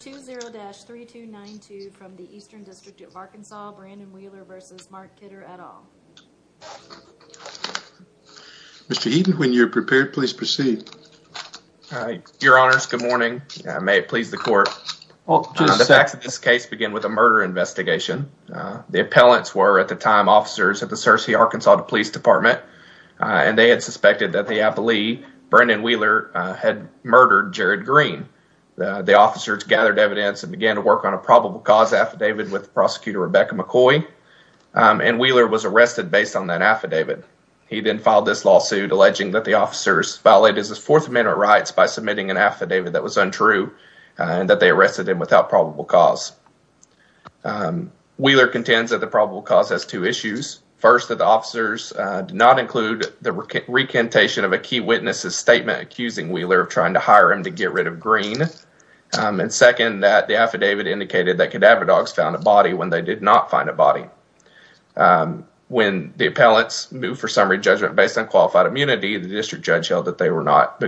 20-3292 from the Eastern District of Arkansas. Brandon Wheeler versus Mark Kidder et al. Mr. Heaton, when you're prepared, please proceed. Your honors, good morning. May it please the court. The facts of this case begin with a murder investigation. The appellants were, at the time, officers at the Searcy Arkansas Police Department and they had suspected that the affilee, Brandon Wheeler, had murdered Jared Green. The officers gathered evidence and began to work on a probable cause affidavit with prosecutor Rebecca McCoy and Wheeler was arrested based on that affidavit. He then filed this lawsuit alleging that the officers violated his Fourth Amendment rights by submitting an affidavit that was untrue and that they arrested him without probable cause. Wheeler contends that the probable cause has two issues. First, that the officers did not include the recantation of a key witness's statement accusing Wheeler of trying to hire him to get rid of Green. Second, that the affidavit indicated that cadaver dogs found a body when they did not find a body. When the appellants moved for summary judgment based on qualified immunity, the district judge held that they were not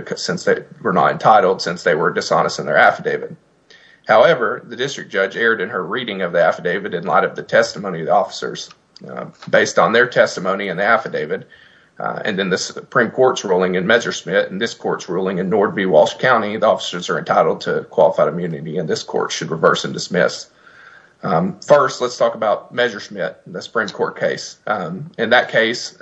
entitled since they were dishonest in their affidavit. However, the district judge erred in her reading of the affidavit in light of the testimony of the officers based on their testimony in the affidavit and in the Supreme Court. In Walsh County, the officers are entitled to qualified immunity and this court should reverse and dismiss. First, let's talk about Measure Schmidt, the Supreme Court case. In that case,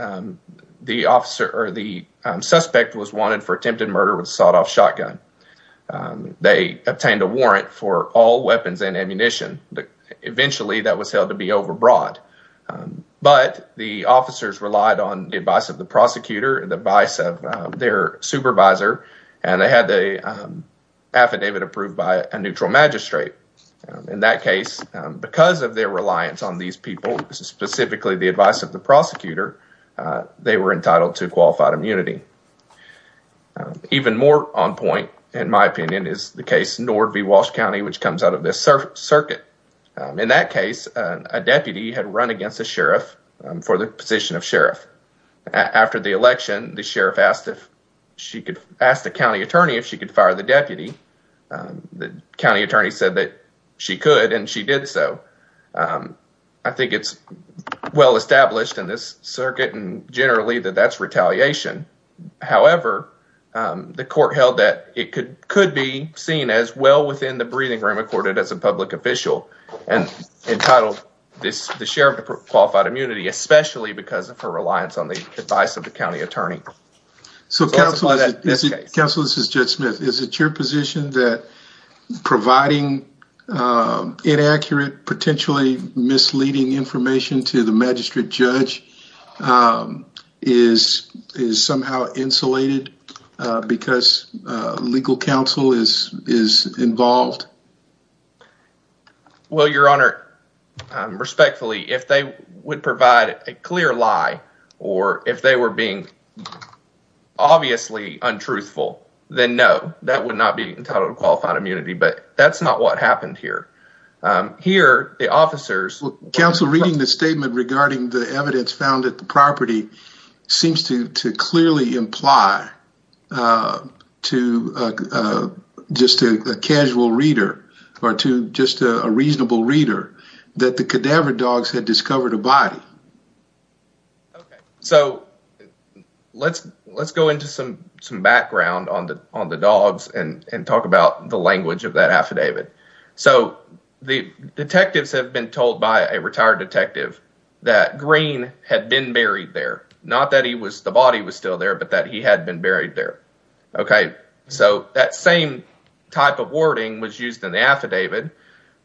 the suspect was wanted for attempted murder with a sawed-off shotgun. They obtained a warrant for all weapons and ammunition. Eventually, that was held to be overbrought, but the officers relied on the advice of the prosecutor and the advice of their supervisor and they had the affidavit approved by a neutral magistrate. In that case, because of their reliance on these people, specifically the advice of the prosecutor, they were entitled to qualified immunity. Even more on point, in my opinion, is the case Nord v. Walsh County, which comes out of this circuit. In that case, a deputy had run against a sheriff for the position of sheriff. After the county attorney asked if she could fire the deputy, the county attorney said that she could and she did so. I think it's well established in this circuit and generally that that's retaliation. However, the court held that it could be seen as well within the breathing room accorded as a public official and entitled the sheriff to qualified immunity, especially because of her reliance on advice of the county attorney. Counsel, this is Judge Smith. Is it your position that providing inaccurate, potentially misleading information to the magistrate judge is somehow insulated because legal counsel is involved? Well, your honor, respectfully, if they would provide a clear lie or if they were being obviously untruthful, then no, that would not be entitled to qualified immunity, but that's not what happened here. Here, the officers... Counsel, reading the statement regarding the evidence found at the property seems to clearly imply to just a casual reader or to just a reasonable reader that the cadaver dogs had discovered a body. Okay, so let's go into some background on the dogs and talk about the language of that affidavit. So, the detectives have been told by a retired detective that Green had been buried there, not that the body was still there, but that he had been buried there. Okay, so that same type of wording was used in the affidavit.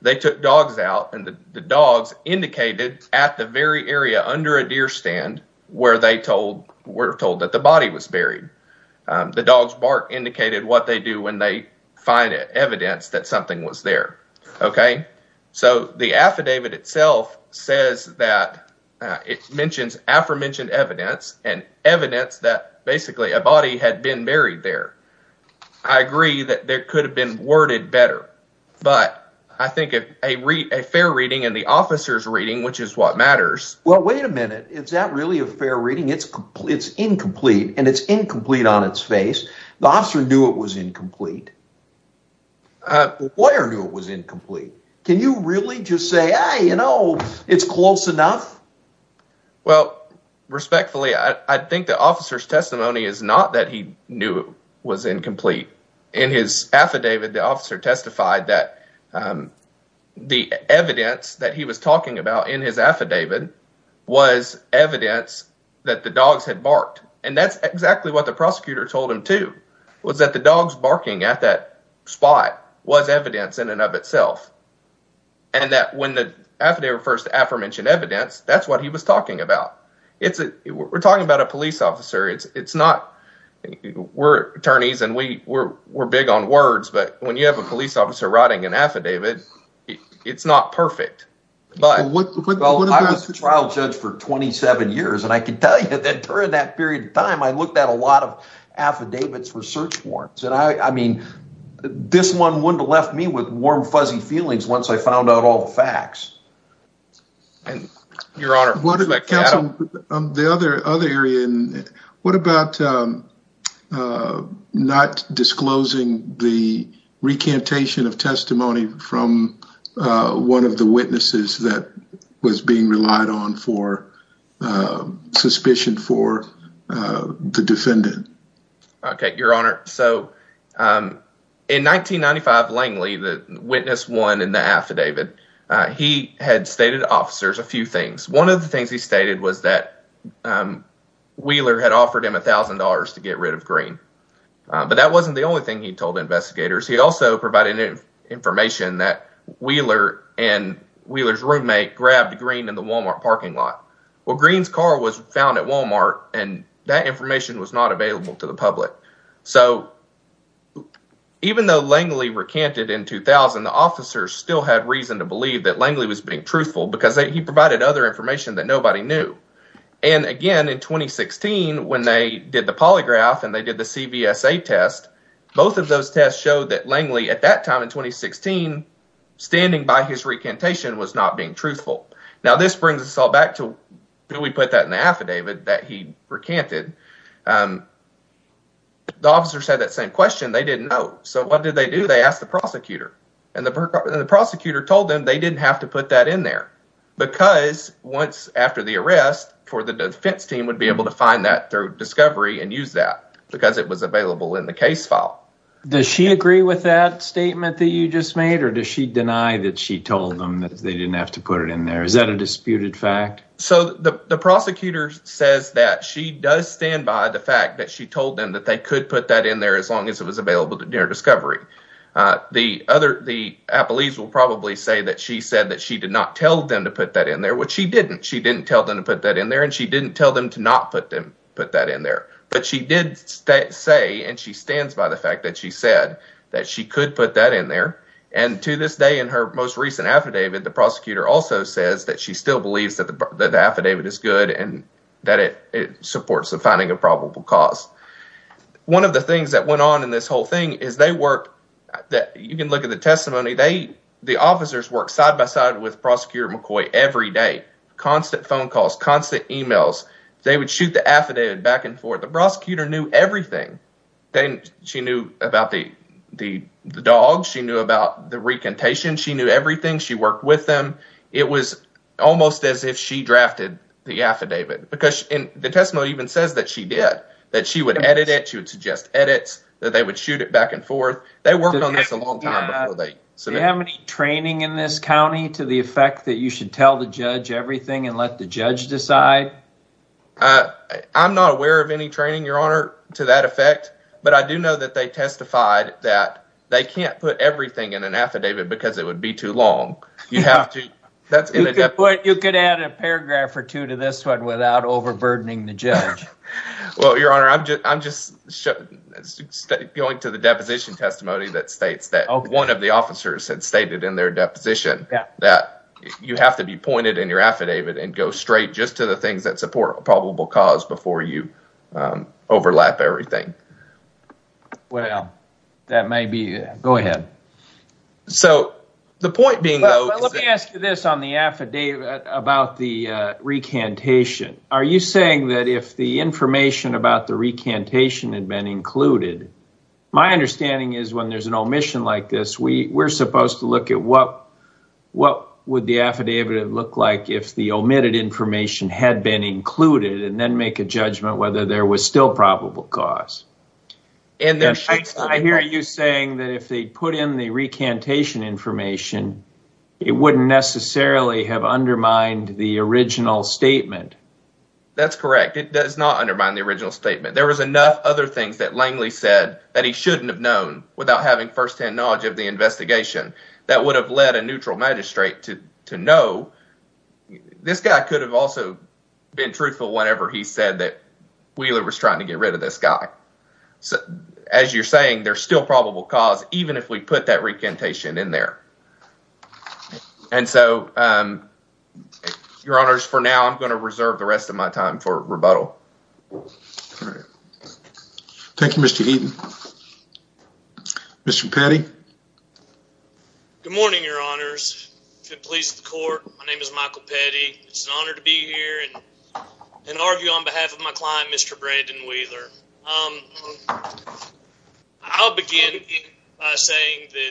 They took dogs out and the dogs indicated at the very area under a deer stand where they were told that the body was buried. The dog's bark indicated what they do when they find evidence that something was there. Okay, so the affidavit itself says that it mentions aforementioned evidence and evidence that basically a body had been buried there. I agree that there could have been worded better, but I think a fair reading and the officer's reading, which is what matters... Well, wait a minute. Is that really a fair reading? It's incomplete and it's incomplete on its face. The officer knew it was incomplete. The lawyer knew it was incomplete. Can you really just say, you know, it's close enough? Well, respectfully, I think the officer's testimony is not that he knew it was incomplete. In his affidavit, the officer testified that the evidence that he was talking about in his affidavit was evidence that the dogs had barked, and that's exactly what the prosecutor told him too, was that the dogs barking at that spot was evidence in and of itself, and that when the affidavit refers to aforementioned evidence, that's what he was talking about. We're talking about a police officer. We're attorneys and we're big on words, but when you have a police officer writing an affidavit, it's not perfect. I was a trial judge for 27 years, and I can tell you that during that period of time, I looked at a lot of affidavits for search warrants, and I mean, this one wouldn't have left me with warm, fuzzy feelings once I found out all the facts. Your Honor, the other area, what about not disclosing the recantation of testimony from one of the witnesses that was being relied on for suspicion for the defendant? Okay, Your Honor, so in 1995 Langley, the witness one in the affidavit, he had stated to officers a few things. One of the things he stated was that Wheeler had offered him $1,000 to get rid of Green, but that wasn't the only thing he told investigators. He also provided information that Wheeler and Wheeler's roommate grabbed Green in the Walmart parking lot. Well, Green's car was found at Walmart, and that information was not available to the public. So even though Langley recanted in 2000, the officers still had reason to believe that Langley was being truthful because he provided other information that nobody knew. And again, in 2016, when they did the polygraph and they did the CVSA test, both of those tests showed that Langley, at that time in 2016, standing by his recantation was not being truthful. Now, this brings us all back to when we put that in the affidavit that he recanted. The officers had that same question. They didn't know. So what did they do? They asked the prosecutor, and the prosecutor told them they didn't have to put that in there because once after the arrest for the defense team would be able to find that through discovery and use that because it was available in the case file. Does she agree with that statement that you just made, or does she deny that she told them that they didn't have to put it in there? Is that a disputed fact? So the prosecutor says that she does stand by the fact that she told them that they could put that in there as long as it was available to their discovery. The other, the to put that in there, which she didn't. She didn't tell them to put that in there and she didn't tell them to not put that in there. But she did say, and she stands by the fact that she said that she could put that in there. And to this day, in her most recent affidavit, the prosecutor also says that she still believes that the affidavit is good and that it supports the finding of probable cause. One of the things that went on in this whole thing is they work, you can look at the testimony, the officers work side by side with Prosecutor McCoy every day. Constant phone calls, constant emails. They would shoot the affidavit back and forth. The prosecutor knew everything. She knew about the dogs. She knew about the recantation. She knew everything. She worked with them. It was almost as if she drafted the affidavit. Because the testimony even says that she did, that she would edit it, she would suggest edits, that they would shoot it back and forth. They worked on this a long time before they submitted. Do you have any training in this county to the effect that you should tell the judge everything and let the judge decide? I'm not aware of any training, Your Honor, to that effect. But I do know that they testified that they can't put everything in an affidavit because it would be too long. You have to, that's inadequate. You could add a paragraph or two to this one without overburdening the judge. Well, Your Honor, I'm just going to the deposition testimony that states that one of the officers had stated in their deposition that you have to be pointed in your affidavit and go straight just to the things that support a probable cause before you overlap everything. Well, that may be, go ahead. So, the point being though... Let me ask you this on the affidavit about the recantation. Are you saying that if the information about the recantation had been included, my understanding is when there's an omission like this, we're supposed to look at what would the affidavit look like if the omitted information had been included and then make a judgment whether there was still probable cause. I hear you saying that if they put in the recantation information, it wouldn't necessarily have undermined the original statement. That's correct. It does not undermine the original statement. There was enough other things that Langley said that he shouldn't have known without having firsthand knowledge of the investigation that would have led a neutral magistrate to know. This guy could have also been truthful whenever he said that Wheeler was trying to get rid of this guy. As you're saying, there's still probable cause even if we put that recantation in there. And so, your honors, for now, I'm going to reserve the rest of my time for rebuttal. Thank you, Mr. Eden. Mr. Petty? Good morning, your honors. Good police of the court. My name is Michael Petty. It's an honor to be here and argue on behalf of my client, Mr. Brandon Wheeler. I'll begin by saying that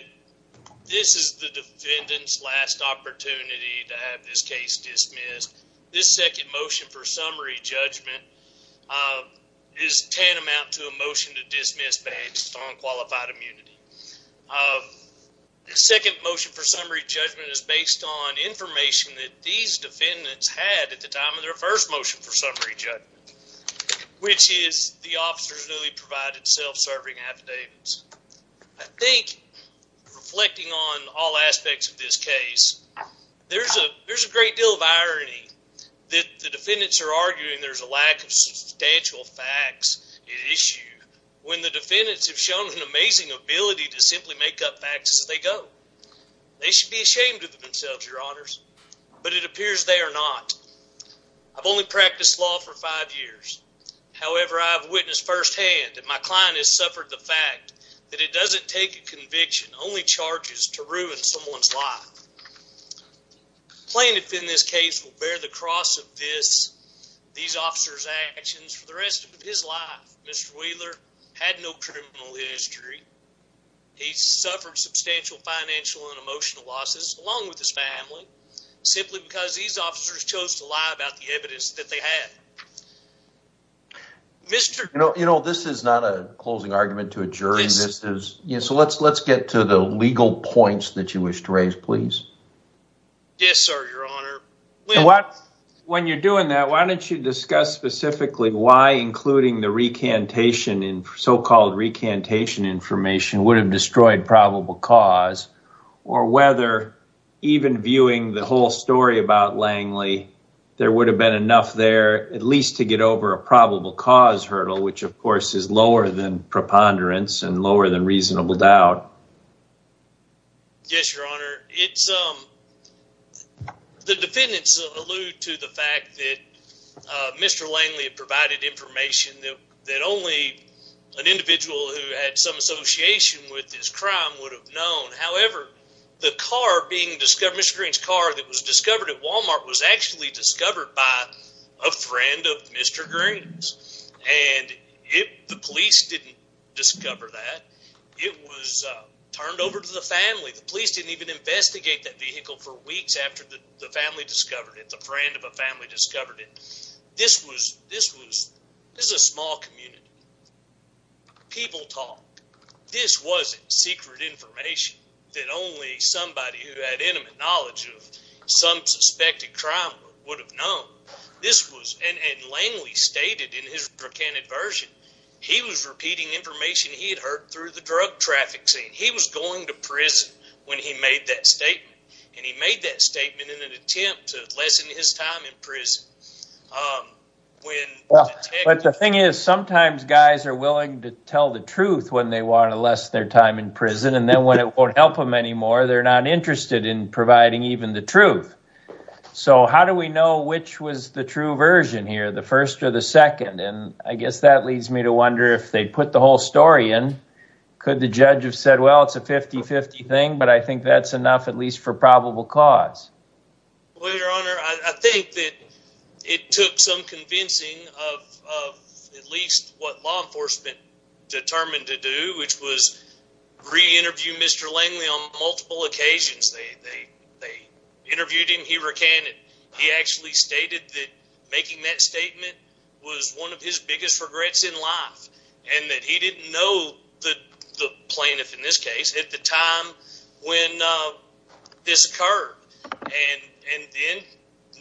this is the defendant's last opportunity to have this case dismissed. This second motion for summary judgment is tantamount to a motion to dismiss based on qualified immunity. The second motion for summary judgment is based on information that these defendants had at the time of their first motion for summary judgment, which is the officers newly provided self-serving affidavits. I think reflecting on all aspects of this case, there's a great deal of irony that the defendants are arguing there's a lack of substantial facts at issue when the defendants have shown an amazing ability to simply make up facts as they go. They should be ashamed of themselves, your honors, but it appears they are not. I've only practiced law for five years. However, I've witnessed firsthand that my client has suffered the fact that it doesn't take a conviction, only charges, to ruin someone's life. Plaintiff in this case will bear the cross of these officers' actions for the rest of his life. Mr. Wheeler had no criminal history. He suffered substantial financial and emotional losses, along with his family, simply because these officers chose to lie about the evidence that they had. You know, this is not a closing argument to a jury. Let's get to the legal points that you wish to raise, please. When you're doing that, why don't you discuss specifically why including the recantation and so-called recantation information would have destroyed probable cause, or whether even viewing the whole story about Langley, there would have been enough there at least to get over a probable cause hurdle, which of course is lower than preponderance and lower than reasonable doubt. Yes, your honor. The defendants allude to the fact that Mr. Langley provided information that only an individual who had some association with this crime would have known. However, the car being discovered, Mr. Green's car that was discovered by a friend of Mr. Green's, and the police didn't discover that. It was turned over to the family. The police didn't even investigate that vehicle for weeks after the family discovered it, the friend of a family discovered it. This was a small community. People talked. This wasn't secret information that only somebody who had intimate knowledge of some suspected crime would have known. This was, and Langley stated in his recanted version, he was repeating information he had heard through the drug traffic scene. He was going to prison when he made that statement, and he made that statement in an attempt to lessen his time in prison. The thing is, sometimes guys are willing to tell the truth when they want to lessen their time in prison, and then when it won't help them anymore, they're not interested in providing even the truth. So how do we know which was the true version here, the first or the second? And I guess that leads me to wonder if they put the whole story in, could the judge have said, well, it's a 50-50 thing, but I think that's enough at least for probable cause. Well, your honor, I think that it took some convincing of at least what law enforcement determined to do, which was re-interview Mr. Langley on multiple occasions. They interviewed him, he recanted. He actually stated that making that statement was one of his biggest regrets in life, and that he didn't know the plaintiff in this case at the time when this occurred. And then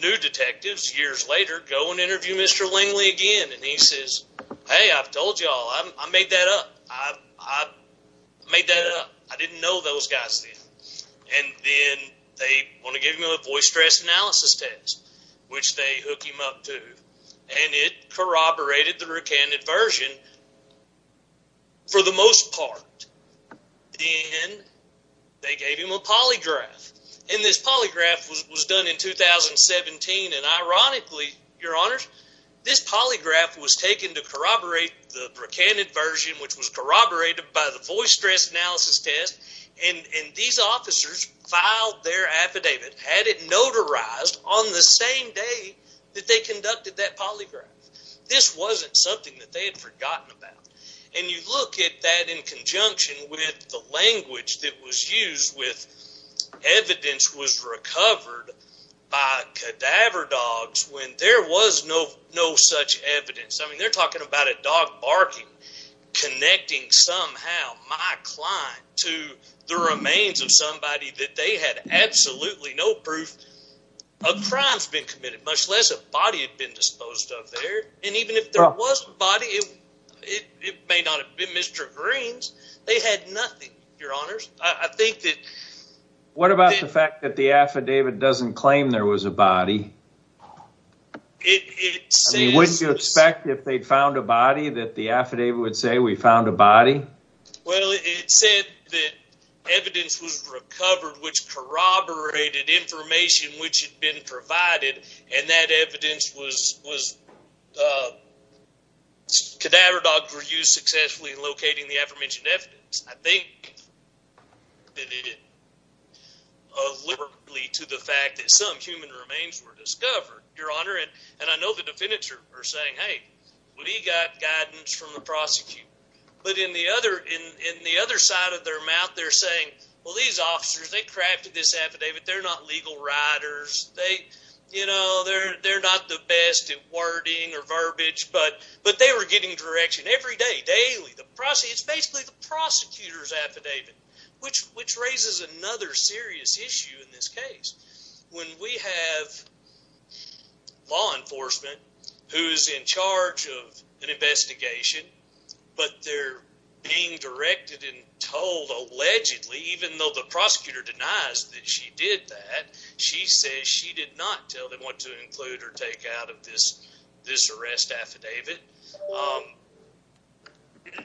new detectives, years later, go and interview Mr. Langley again, and he says, hey, I've told y'all, I made that up, I made that up, I didn't know those guys then. And then they want to give him a voice stress analysis test, which they hook him up to, and it corroborated the recanted version for the most part. Then they gave him a polygraph, and this polygraph was done in 2017, and ironically, your honors, this polygraph was taken to corroborate the recanted version, which was corroborated by the voice stress analysis test, and these officers filed their affidavit, had it notarized on the same day that they conducted that polygraph. This wasn't something that they had forgotten about. And you look at that in conjunction with the language that was no such evidence. I mean, they're talking about a dog barking, connecting somehow my client to the remains of somebody that they had absolutely no proof of crimes been committed, much less a body had been disposed of there. And even if there was a body, it may not have been Mr. Green's, they had nothing, your honors. I think that- What about the fact that the affidavit doesn't claim there was a body? Wouldn't you expect if they'd found a body that the affidavit would say we found a body? Well, it said that evidence was recovered, which corroborated information which had been provided, and that evidence was, cadaver dogs were used successfully in locating the aforementioned evidence. I think that it did it of liberally to the fact that some human remains were discovered, your honor. And I know the defendants are saying, hey, what do you got guidance from the prosecutor? But in the other side of their mouth, they're saying, well, these officers, they crafted this affidavit. They're not legal writers. They're not the best at wording or verbiage, but they were getting direction every day, daily. It's basically the prosecutor's affidavit, which raises another serious issue in this case. When we have law enforcement who's in charge of an investigation, but they're being directed and told allegedly, even though the prosecutor denies that she did that, she says she did not tell them to include or take out of this arrest affidavit.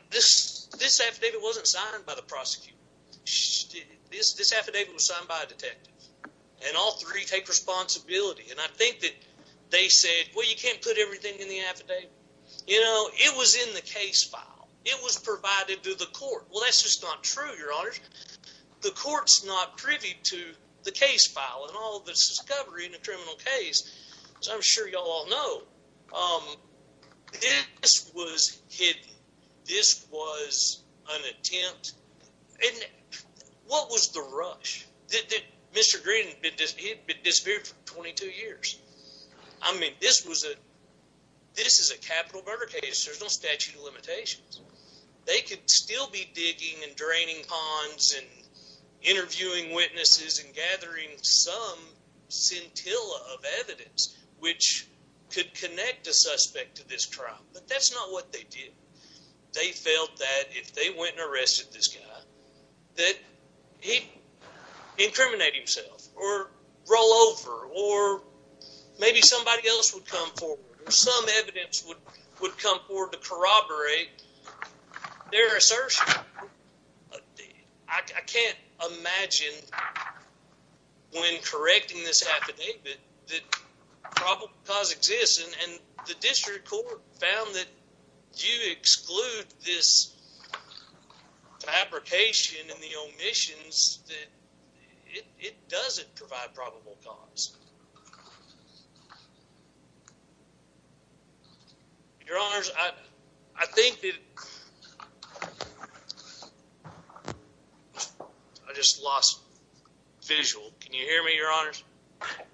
This affidavit wasn't signed by the prosecutor. This affidavit was signed by a detective, and all three take responsibility. And I think that they said, well, you can't put everything in the affidavit. It was in the case file. It was provided to the court. Well, that's just not true, your honors. The court's not privy to the case file and all this discovery in a criminal case, as I'm sure you all know. This was hidden. This was an attempt. And what was the rush? Mr. Green, he'd been disappeared for 22 years. I mean, this is a capital murder case. There's no statute of limitations. They could still be digging and draining ponds and interviewing witnesses and gathering some scintilla of evidence which could connect a suspect to this trial, but that's not what they did. They felt that if they went and arrested this guy, that he'd incriminate himself or roll over, or maybe somebody else would come forward, or some evidence would come forward to corroborate their assertion. I can't imagine when correcting this affidavit that probable cause exists, and the district court found that you exclude this fabrication and the omissions that it doesn't provide probable cause. Your honors, I think that I just lost visual. Can you hear me, your honors?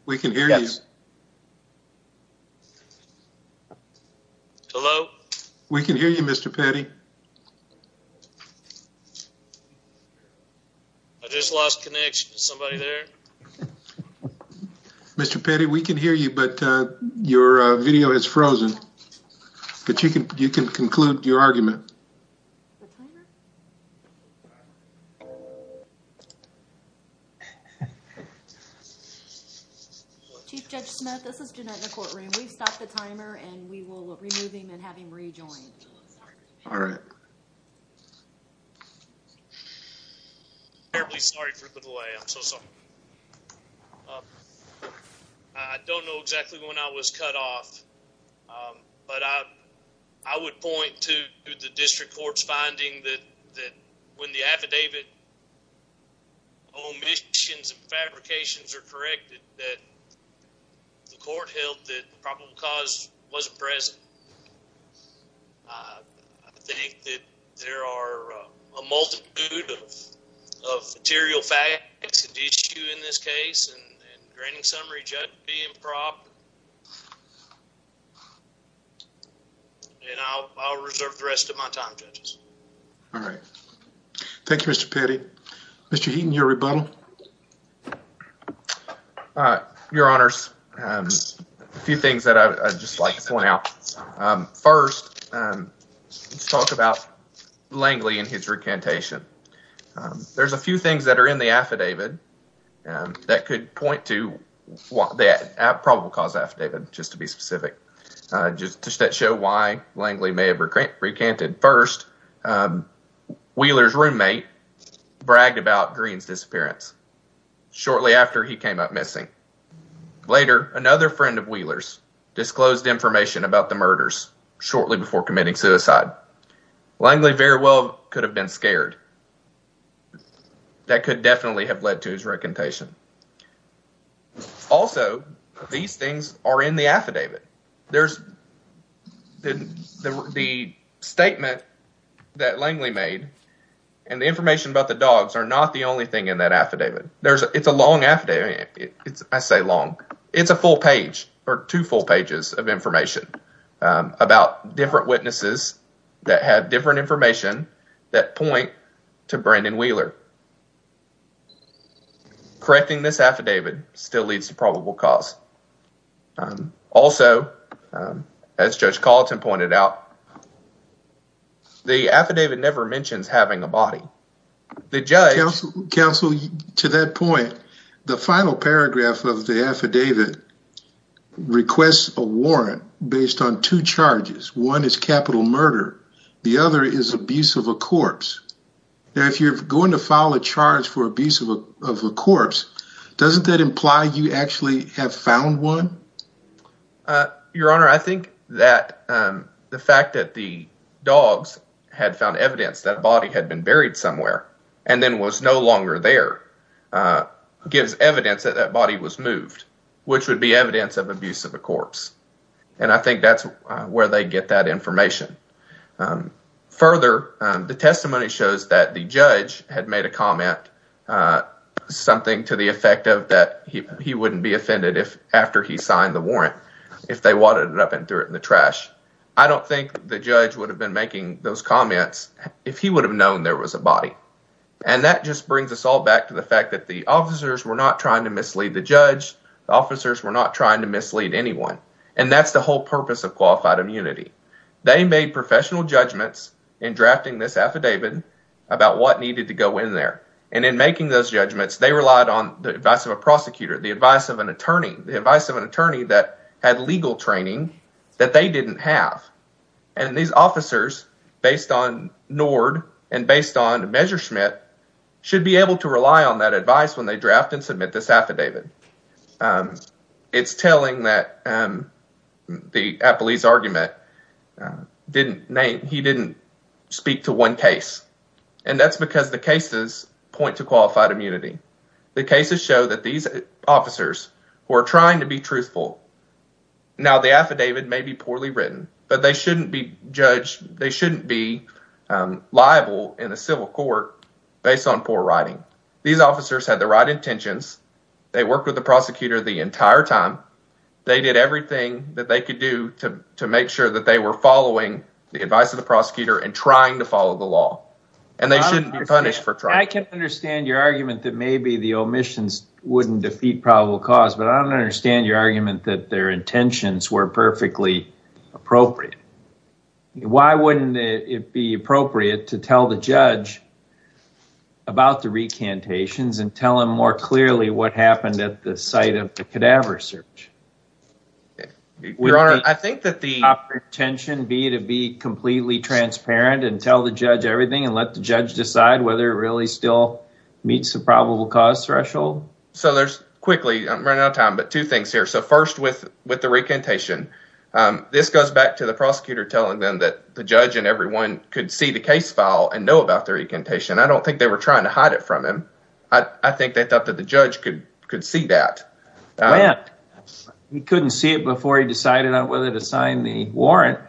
We can hear you. Hello? We can hear you, Mr. Petty. I just lost connection to somebody there. Mr. Petty, we can hear you, but your video has frozen, but you can conclude your argument. Chief Judge Smith, this is Jeanette in the courtroom. We've stopped the timer, and we will remove him and have him rejoin. All right. I'm terribly sorry for the delay. I'm so sorry. I don't know exactly when I was cut off, but I would point to the district court's finding that when the affidavit omissions and fabrications are corrected, that the court held that probable cause wasn't present. I think that there are a multitude of material facts and issue in this case, and the granting summary being improper, and I'll reserve the rest of my time, judges. All right. Thank you, Mr. Petty. Mr. Heaton, your rebuttal. All right. Your honors, a few things that I'd just like to point out. First, let's talk about Langley and his recantation. There's a few things that are in the affidavit that could point to that probable cause affidavit, just to be specific, just to show why Langley may have recanted. First, Wheeler's roommate bragged about Green's disappearance shortly after he came up missing. Later, another friend of Wheeler's disclosed information about the murders shortly before committing suicide. Langley very well could have been scared. That could definitely have led to his recantation. Also, these things are in the affidavit. The statement that Langley made and the information about the dogs are not the only thing in that affidavit. It's a long affidavit. I say long. It's a full page or two full pages of information about different witnesses that have different information that point to Brandon Wheeler. Correcting this affidavit still leads to probable cause. Also, as Judge Colleton pointed out, the affidavit never mentions having a body. Counsel, to that point, the final paragraph of the affidavit requests a warrant based on two charges. One is capital murder. The other is abuse of a corpse. If you're going to file a charge for abuse of a corpse, doesn't that imply you actually have found one? Your Honor, I think that the fact that the dogs had found evidence that a body had been buried somewhere and then was no longer there gives evidence that that body was moved, which would be evidence of abuse of a corpse. I think that's where they get that information. Further, the testimony shows that the judge had made a comment, something to the effect that he wouldn't be offended if after he signed the warrant, if they wadded it up and threw it in the trash. I don't think the judge would have been making those comments if he would have known there was a body. That just brings us all back to the fact that the officers were not trying to mislead the judge. The officers were not trying to mislead anyone. That's the whole purpose of qualified immunity. They made professional judgments in drafting this affidavit about what needed to go in there. In making those judgments, they relied on the advice of a prosecutor, the advice of an attorney, the advice of an attorney that had legal training that they didn't have. These officers, based on Nord and based on Messerschmidt, should be able to rely on that advice when they draft and submit this affidavit. It's telling that the Appellee's didn't name, he didn't speak to one case. And that's because the cases point to qualified immunity. The cases show that these officers who are trying to be truthful, now the affidavit may be poorly written, but they shouldn't be judged, they shouldn't be liable in a civil court based on poor writing. These officers had the right intentions. They worked with the prosecutor the following the advice of the prosecutor and trying to follow the law. And they shouldn't be punished for trying. I can understand your argument that maybe the omissions wouldn't defeat probable cause, but I don't understand your argument that their intentions were perfectly appropriate. Why wouldn't it be appropriate to tell the judge about the recantations and tell him more clearly what happened at the site of the cadaver search? Your Honor, I think that the intention would be to be completely transparent and tell the judge everything and let the judge decide whether it really still meets the probable cause threshold. So there's quickly, I'm running out of time, but two things here. So first with the recantation, this goes back to the prosecutor telling them that the judge and everyone could see the case file and know about their recantation. I don't think they were trying to hide it from him. I think they thought that the judge could see that. He couldn't see it before he decided on whether to sign the warrant.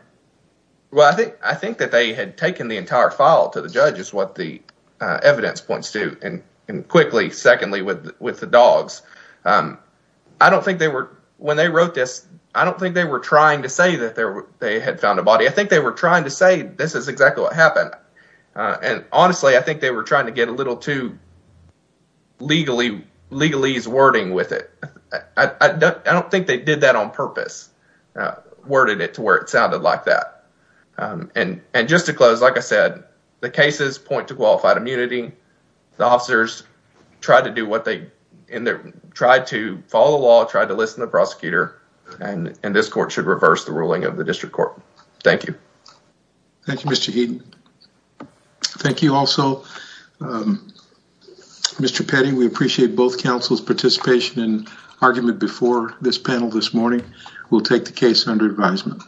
Well, I think that they had taken the entire file to the judge is what the evidence points to. And quickly, secondly, with the dogs, I don't think they were, when they wrote this, I don't think they were trying to say that they had found a body. I think they were trying to say this is exactly what happened. And honestly, I think they were trying to get a little too legalese wording with it. I don't think they did that on purpose, worded it to where it sounded like that. And just to close, like I said, the cases point to qualified immunity. The officers tried to do what they, tried to follow the law, tried to listen to the prosecutor, and this court should reverse the ruling of the district court. Thank you. Thank you, Mr. Heaton. Thank you also. Mr. Petty, we appreciate both counsel's participation and argument before this panel this morning. We'll take the case under advisement.